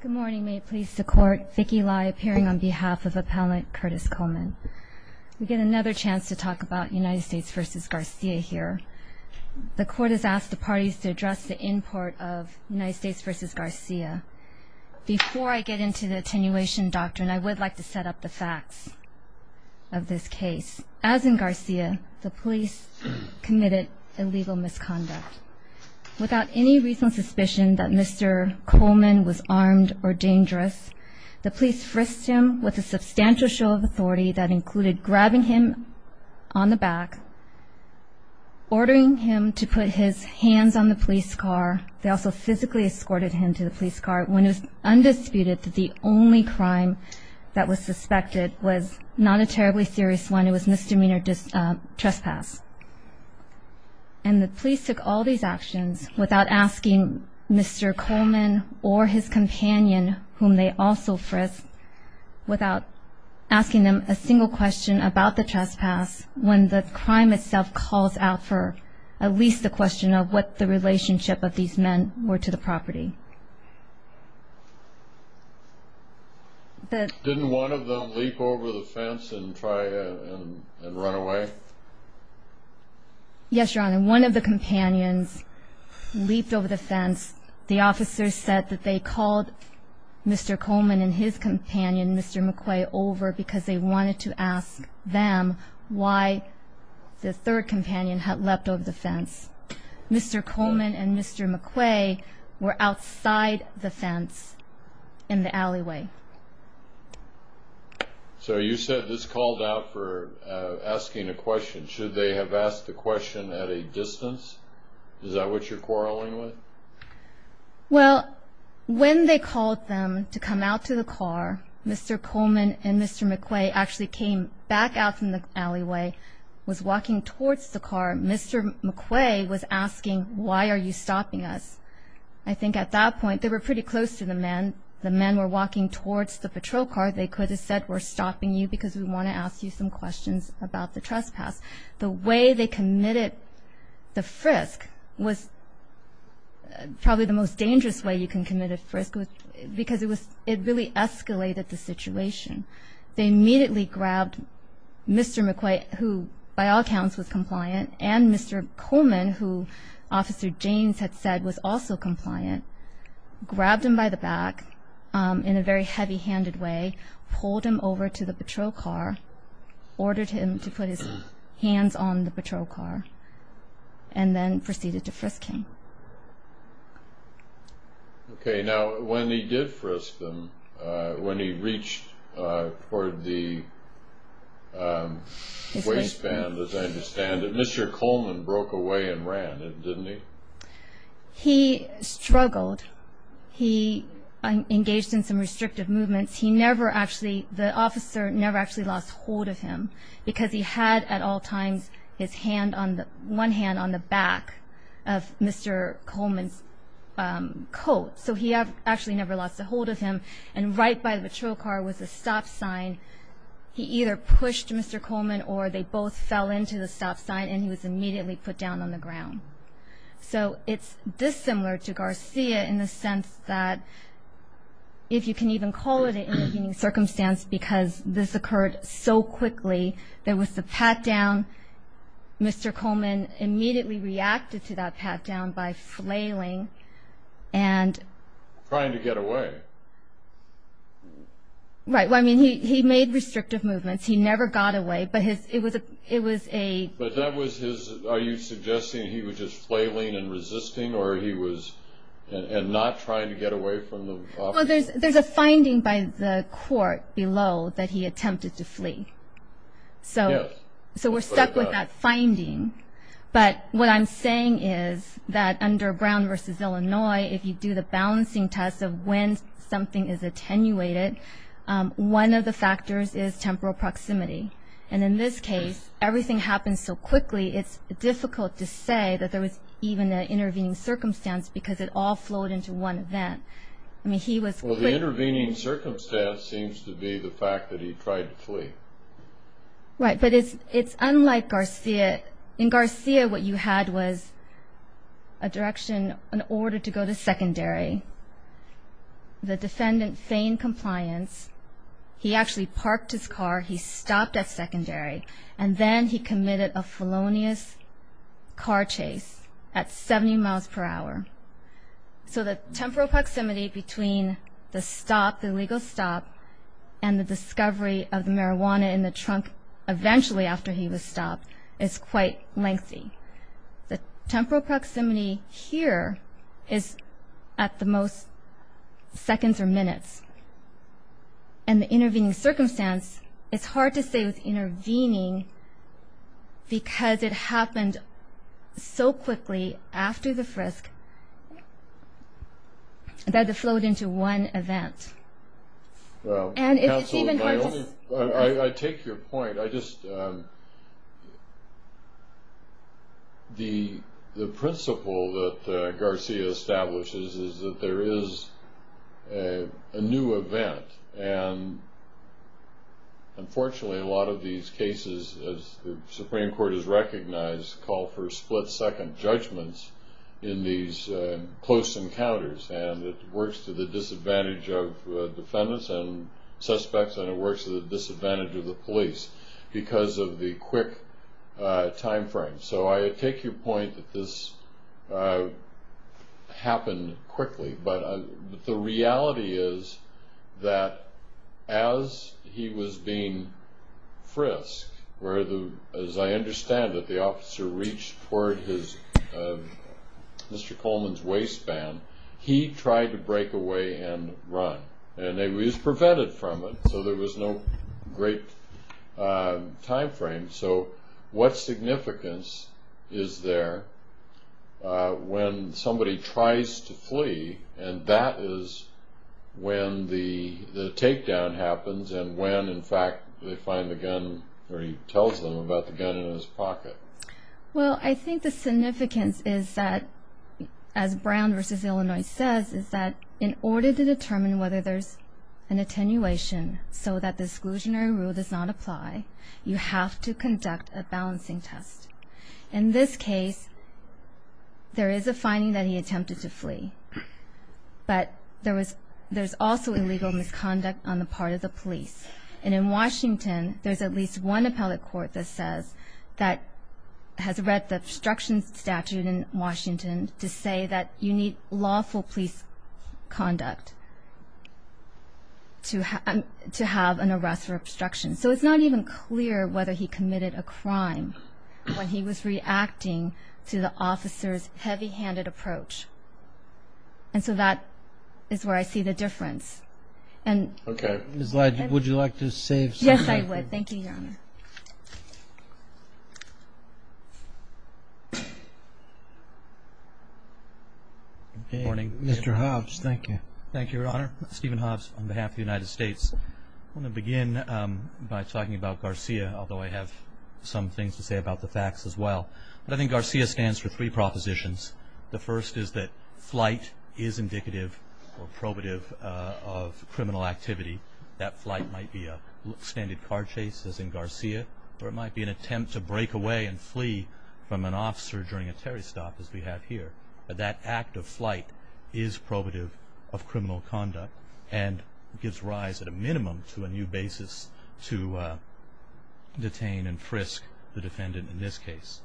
Good morning. May it please the court, Vicky Lai appearing on behalf of Appellant Curtis Coleman. We get another chance to talk about United States v. Garcia here. The court has asked the parties to address the import of United States v. Garcia. Before I get into the attenuation doctrine, I would like to set up the facts of this case. As in Garcia, the police committed illegal misconduct. Without any reasonable suspicion that Mr. or dangerous, the police frisked him with a substantial show of authority that included grabbing him on the back, ordering him to put his hands on the police car. They also physically escorted him to the police car when it was undisputed that the only crime that was suspected was not a terribly serious one. It was misdemeanor trespass. And the police took all these actions without asking Mr. Coleman or his companion, whom they also frisked, without asking them a single question about the trespass when the crime itself calls out for at least the question of what the relationship of these men were to the property. Didn't one of them leap over the fence and try and run away? Yes, Your Honor. One of the companions leaped over the fence. The officers said that they called Mr. Coleman and his companion, Mr. McQuay, over because they wanted to ask them why the third companion had leapt over the fence. Mr. Coleman and Mr. McQuay were outside the fence in the alleyway. So you said this called out for asking a question. Should they have asked the question at a distance? Is that what you're quarreling with? Well, when they called them to come out to the car, Mr. Coleman and Mr. McQuay actually came back out from the alleyway, was walking towards the car. Mr. McQuay was asking, why are you stopping us? I think at that point they were pretty close to the men. The men were walking towards the patrol car. They could have said we're stopping you because we want to ask you some questions about the trespass. The way they committed the frisk was probably the most dangerous way you can commit a frisk, because it really escalated the situation. They immediately grabbed Mr. McQuay, who by all counts was compliant, grabbed him by the back in a very heavy-handed way, pulled him over to the patrol car, ordered him to put his hands on the patrol car, and then proceeded to frisk him. Okay, now when he did frisk them, when he reached for the waistband, as I understand it, Mr. Coleman broke away and ran, didn't he? He struggled. He engaged in some restrictive movements. He never actually, the officer never actually lost hold of him, because he had at all times his hand on the, one hand on the back of Mr. Coleman's coat. So he actually never lost a hold of him, and right by the patrol car was a stop sign. He either pushed Mr. Coleman, or they both fell into the stop sign, and he was So it's dissimilar to Garcia in the sense that, if you can even call it an independent circumstance, because this occurred so quickly, there was the pat-down. Mr. Coleman immediately reacted to that pat-down by flailing and... Trying to get away. Right, well, I mean, he made restrictive movements. He never got away, but it was a... But that was his, are you suggesting he was just flailing and resisting, or he was, and not trying to get away from the officer? Well, there's a finding by the court below that he attempted to flee. So we're stuck with that finding, but what I'm saying is that underground versus Illinois, if you do the balancing test of when something is attenuated, one of the factors is temporal proximity. And in this case, everything happened so quickly, it's difficult to say that there was even an intervening circumstance, because it all flowed into one event. I mean, he was quick... Well, the intervening circumstance seems to be the fact that he tried to flee. Right, but it's unlike Garcia. In Garcia, what you had was a direction, an order to go to secondary. The defendant feigned compliance. He actually parked his car, he stopped at secondary, and then he committed a felonious car chase at 70 miles per hour. So the temporal proximity between the stop, the legal stop, and the discovery of marijuana in the trunk eventually after he was stopped is quite lengthy. The temporal proximity here is at the most seconds or minutes. And the intervening circumstance, it's hard to say it was intervening, because it happened so quickly after the frisk that it flowed into one event. Well, counsel, I take your point. The principle that Garcia establishes is that there is a new event. And unfortunately, a lot of these cases, as the Supreme Court has recognized, call for split-second judgments in these close encounters. And it works to the disadvantage of defendants and suspects, and it works to the disadvantage of the police because of the quick time frame. So I take your point that this happened quickly. But the reality is that as he was being frisked, as I understand it, the officer reached toward Mr. Coleman's waistband, he tried to break away and run. And he was prevented from it, so there was no great time frame. So what significance is there when somebody tries to flee and that is when the takedown happens and when, in fact, they find the gun or he tells them about the gun in his pocket? Well, I think the significance is that, as Brown v. Illinois says, is that in order to determine whether there's an attenuation so that the exclusionary rule does not apply, you have to conduct a balancing test. In this case, there is a finding that he attempted to flee, but there's also illegal misconduct on the part of the police. And in Washington, there's at least one appellate court that has read the obstruction statute in Washington to say that you need lawful police conduct to have an arrest for obstruction. So it's not even clear whether he committed a crime when he was reacting to the officer's heavy-handed approach. And so that is where I see the difference. Okay. Ms. Leijon, would you like to say something? I would. Thank you, Your Honor. Good morning. Mr. Hobbs, thank you. Thank you, Your Honor. Stephen Hobbs on behalf of the United States. I want to begin by talking about Garcia, although I have some things to say about the facts as well. I think Garcia stands for three propositions. The first is that flight is indicative or probative of standard car chase, as in Garcia, or it might be an attempt to break away and flee from an officer during a terrorist stop, as we have here. That act of flight is probative of criminal conduct and gives rise, at a minimum, to a new basis to detain and frisk the defendant in this case.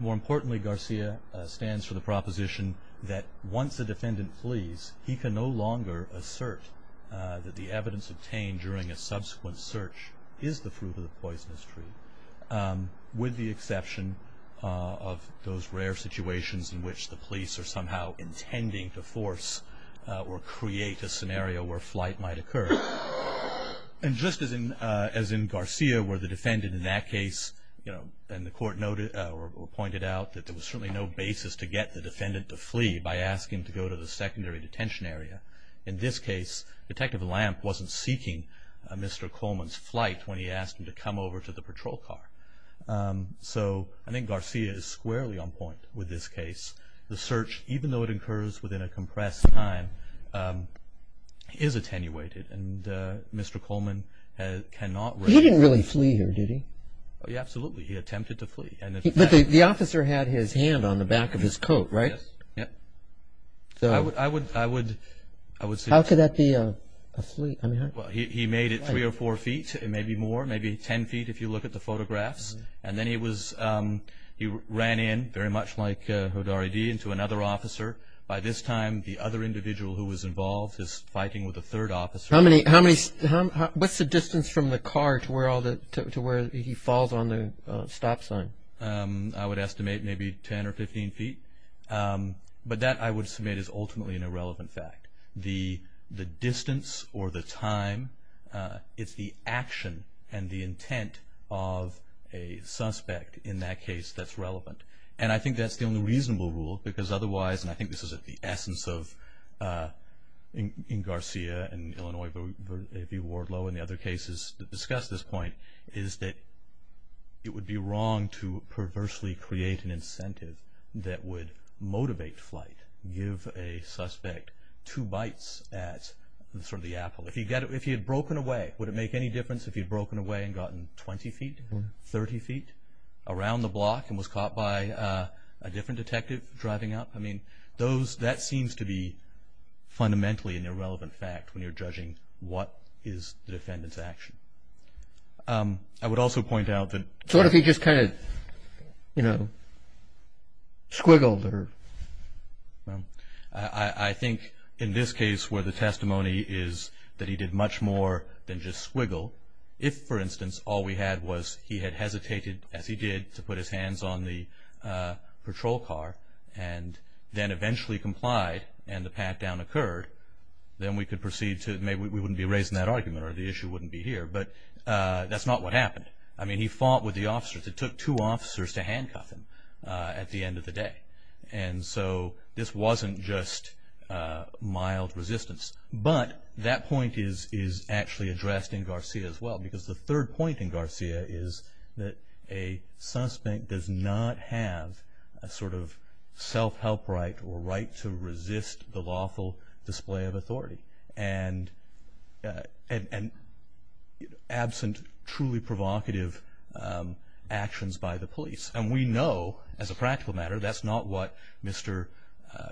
More importantly, Garcia stands for the proposition that once the defendant flees, he can no longer assert that the evidence obtained during a subsequent search is the proof of the poisonous tree, with the exception of those rare situations in which the police are somehow intending to force or create a scenario where flight might occur. And just as in Garcia, where the defendant in that case, you know, and the court pointed out that there was certainly no basis to get the defendant to flee by asking to go to the secondary detention area, in this case, Detective Lamp wasn't seeking Mr. Coleman's flight when he asked him to come over to the patrol car. So, I think Garcia is squarely on point with this case. The search, even though it occurs within a compressed time, is attenuated and Mr. Coleman cannot... He didn't really flee here, did he? Absolutely, he attempted to flee. But the officer had his hand on the back of his coat, right? Yes. How could that be a fleet? He made it three or four feet, maybe more, maybe ten feet, if you look at the photographs. And then he ran in, very much like Hodari did, into another officer. By this time, the other individual who was involved is fighting with a third officer. What's the distance from the car to where he falls on the stop sign? I would estimate maybe 10 or 15 feet. But that, I would submit, is ultimately an irrelevant fact. The distance or the time, it's the action and the intent of a suspect in that case that's relevant. And I think that's the only reasonable rule, because otherwise, and I think this is at the essence of Garcia and Illinois v. Wardlow and the other cases that discuss this point, is that it would be wrong to perversely create an incentive that would motivate flight, give a suspect two bites at the apple. If he had broken away, would it make any difference if he had broken away and gotten 20 feet, 30 feet, around the block and was caught by a different detective driving up? I mean, that seems to be fundamentally an irrelevant fact when you're judging what is the defendant's action. I would also point out that... So what if he just kind of, you know, squiggled? I think in this case where the testimony is that he did much more than just squiggle, if, for instance, all we had was he had hesitated, as he did, to put his hands on the patrol car and then eventually complied and the pat-down occurred, then we could proceed to, maybe we wouldn't be raising that argument or the And so this wasn't just mild resistance. But that point is actually addressed in Garcia as well, because the third point in Garcia is that a suspect does not have a sort of self-help right or right to resist the lawful display of authority, and absent truly provocative actions by the police. And we know, as a practical matter, that's not what Mr.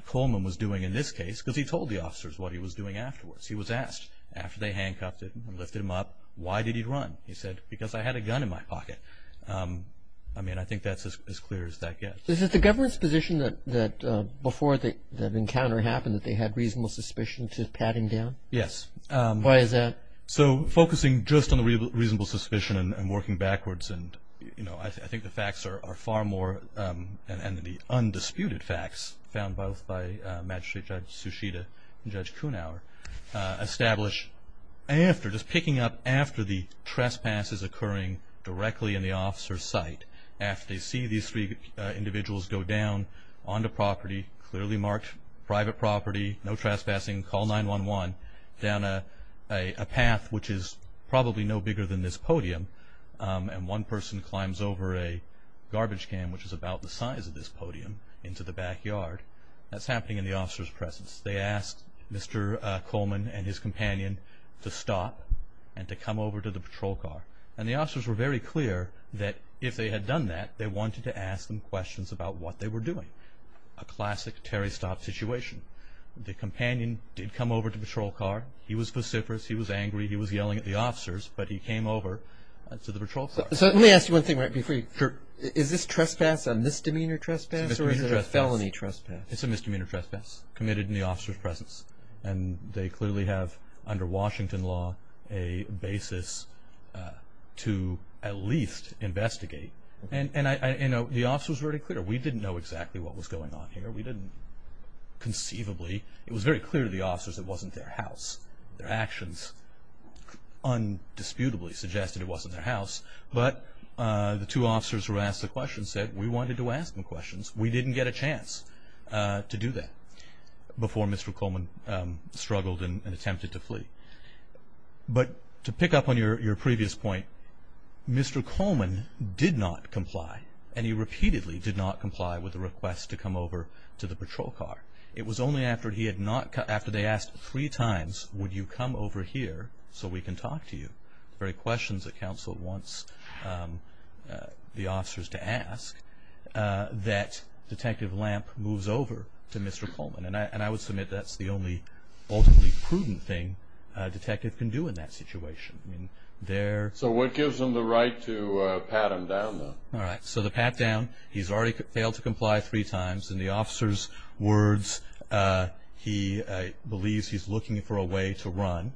Coleman was doing in this case, because he told the officers what he was doing afterwards. He was asked, after they handcuffed him and lifted him up, why did he run? He said, because I had a gun in my pocket. I mean, I think that's as clear as that gets. Is it the government's position that before the encounter happened that they had reasonable suspicion to pat him down? Yes. Why is that? So focusing just on the reasonable suspicion and working backwards, I think the facts are far more, and the undisputed facts found both by Magistrate Judge Sushita and Judge Kuhnauer, establish after, just picking up after the trespasses occurring directly in the officer's site, after they see these three individuals go down onto property, clearly marked private property, no trespassing, call 911, down a path which is probably no bigger than this podium, and one person climbs over a garbage can, which is about the size of this podium, into the backyard. That's happening in the officer's presence. They asked Mr. Coleman and his companion to stop and to come over to the patrol car. And the officers were very clear that if they had done that, they wanted to ask them questions about what they were doing. A classic Terry Stop situation. The companion did come over to the patrol car. He was vociferous, he was angry, he was yelling at the officers, but he came over to the patrol car. So let me ask you one thing right before you, is this trespass a misdemeanor trespass or is it a felony trespass? It's a misdemeanor trespass committed in the officer's presence. And they clearly have, under Washington law, a basis to at least investigate. And the officers were very clear. We didn't know exactly what was going on here. We didn't conceivably, it was very clear to the officers it wasn't their house. Their actions undisputably suggested it wasn't their house. But the two officers who were asked the question said we wanted to ask them questions. We didn't get a chance to do that before Mr. Coleman struggled and attempted to flee. But to pick up on your previous point, Mr. Coleman did not comply. And he repeatedly did not comply with the request to come over to the patrol car. It was only after they asked three times would you come over here so we can talk to you, the very questions that counsel wants the officers to ask, that Detective Lamp moves over to Mr. Coleman. And I would submit that's the only ultimately prudent thing a detective can do in that situation. So what gives them the right to pat him down? So to pat down, he's already failed to comply three times. In the officer's words, he believes he's looking for a way to run.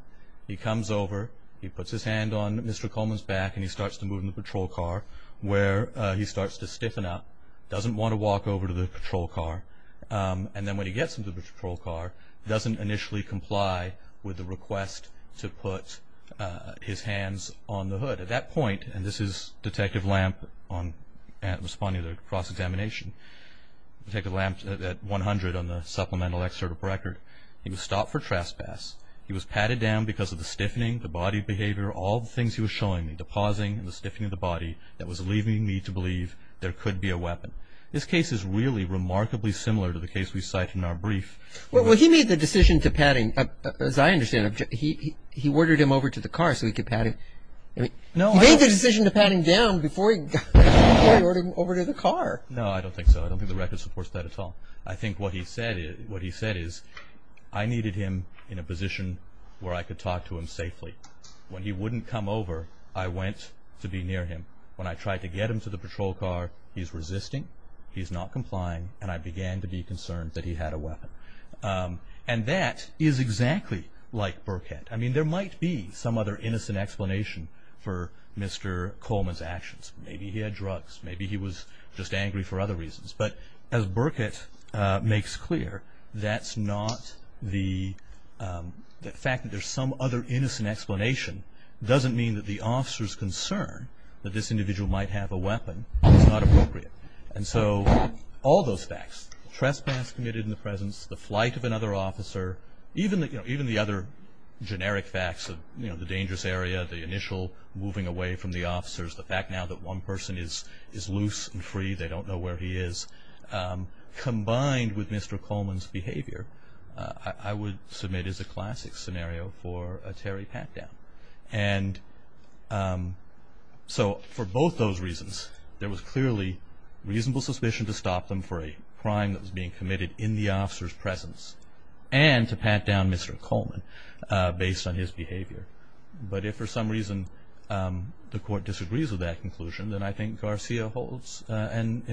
He comes over, he puts his hand on Mr. Coleman's back and he starts to move in the patrol car where he starts to stiffen up. Doesn't want to walk over to the patrol car. And then when he gets into the patrol car, doesn't initially comply with the request to put his hands on the hood. At that point, and this is Detective Lamp responding to the cross-examination, Detective Lamp at 100 on the supplemental record, he was stopped for trespass. He was patted down because of the stiffening, the body behavior, all the things he was showing me, the pausing and the stiffening of the body that was leaving me to believe there could be a weapon. This case is really remarkably similar to the case we cite in our brief. Well, he made the decision to pat him, as I understand it, he ordered him over to the car so he could pat him. He made the decision to pat him down before he ordered him over to the car. No, I don't think so. I don't think the record supports that at all. I think what he said is, I needed him in a position where I could talk to him safely. When he wouldn't come over, I went to be near him. When I tried to get him to the patrol car, he's resisting, he's not complying, and I began to be concerned that he had a weapon. And that is exactly like Burkhead. I mean, there might be some other innocent explanation for Mr. Coleman's actions. Maybe he had drugs, maybe he was just angry for other reasons. But as Burkhead makes clear, that's not the fact that there's some other innocent explanation doesn't mean that the officer's concern that this individual might have a weapon is not appropriate. And so all those facts, the trespass committed in the presence, the flight of another officer, even the other generic facts of the dangerous area, the initial moving away from the officers, the fact now that one person is loose and free, they don't know where he is, combined with Mr. Coleman's behavior, I would submit is a classic scenario for a Terry pat-down. And so for both those reasons, there was clearly reasonable suspicion to stop them for a crime that was being committed in the officer's presence and to pat down Mr. Coleman based on his behavior. But if for some reason the court disagrees with that conclusion, then I think Garcia holds and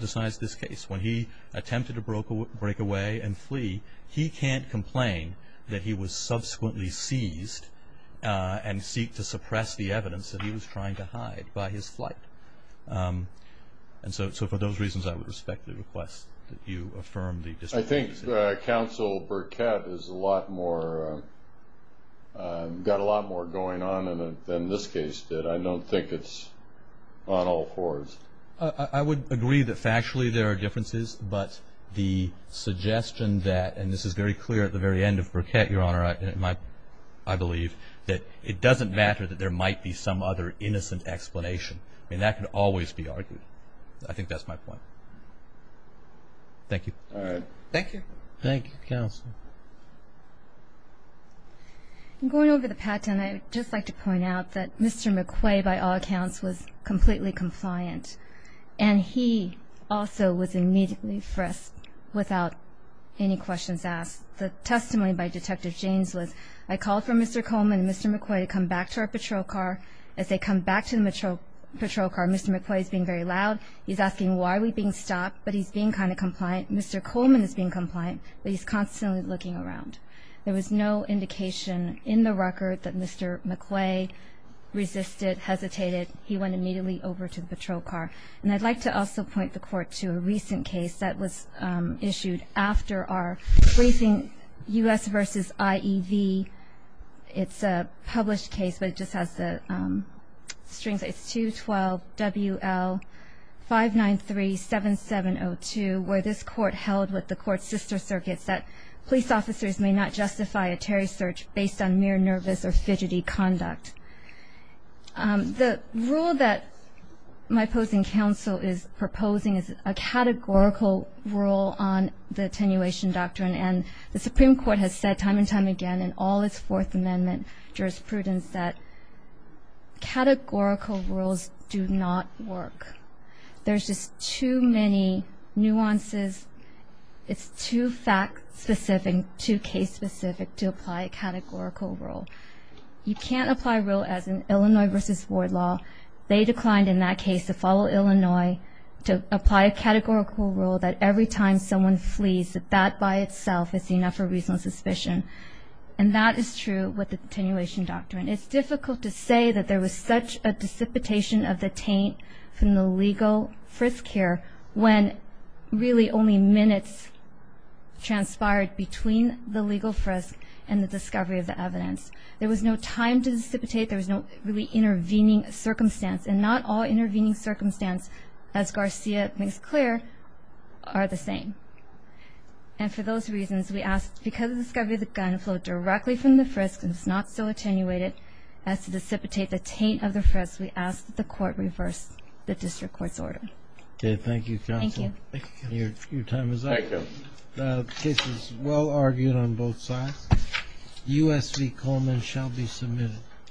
decides this case. When he attempted to break away and flee, he can't complain that he was subsequently seized and seek to suppress the evidence that he was trying to hide by his flight. And so for those reasons, I would respect the request that you affirm the distinction. I think Counsel Burkett has a lot more, got a lot more going on in it than this case did. I don't think it's on all fours. I would agree that factually there are differences, but the suggestion that, and this is very clear at the very end of Burkett, Your Honor, I believe, that it doesn't matter that there might be some other innocent explanation. I mean, that can always be argued. I think that's my point. Thank you. All right. Thank you. Thank you, Counsel. Going over the patent, I would just like to point out that Mr. McQuay, by all accounts, was completely compliant. And he also was immediately frisked without any questions asked. The testimony by Detective James was, I called for Mr. Coleman and Mr. McQuay to come back to our patrol car. As they come back to the patrol car, Mr. McQuay is being very loud. He's asking, why are we being stopped? But he's being kind of compliant. Mr. Coleman is being compliant, but he's constantly looking around. There was no indication in the record that Mr. McQuay resisted, hesitated. He went immediately over to the patrol car. And I'd like to also point the Court to a recent case that was issued after our briefing, U.S. v. IEV. It's a published case, but it just has the strings. It's 212 WL-593-7702, where this Court held with the Court's sister circuits that police officers may not justify a Terry search based on mere nervous or fidgety conduct. The rule that my opposing counsel is proposing is a categorical rule on the attenuation doctrine. And the Supreme Court has said time and time again in all its Fourth Amendment jurisprudence that categorical rules do not work. There's just too many nuances. It's too fact-specific, too case-specific to apply a categorical rule. You can't apply a rule as in Illinois v. Ward Law. They declined in that case to follow Illinois to apply a categorical rule that every time someone flees, that that by itself is enough for reasonable suspicion. And that is true with the attenuation doctrine. It's difficult to say that there was such a dissipation of the taint from the legal frisk here when really only minutes transpired between the legal frisk and the discovery of the evidence. There was no time to dissipate. There was no really intervening circumstance. And not all intervening circumstances, as Garcia makes clear, are the same. And for those reasons, we ask that because of the discovery of the gun, flowed directly from the frisk and was not so attenuated as to dissipate the taint of the frisk, we ask that the court reverse the district court's order. Okay, thank you, counsel. Thank you. Your time is up. Thank you. The case is well argued on both sides. U.S. v. Coleman shall be submitted.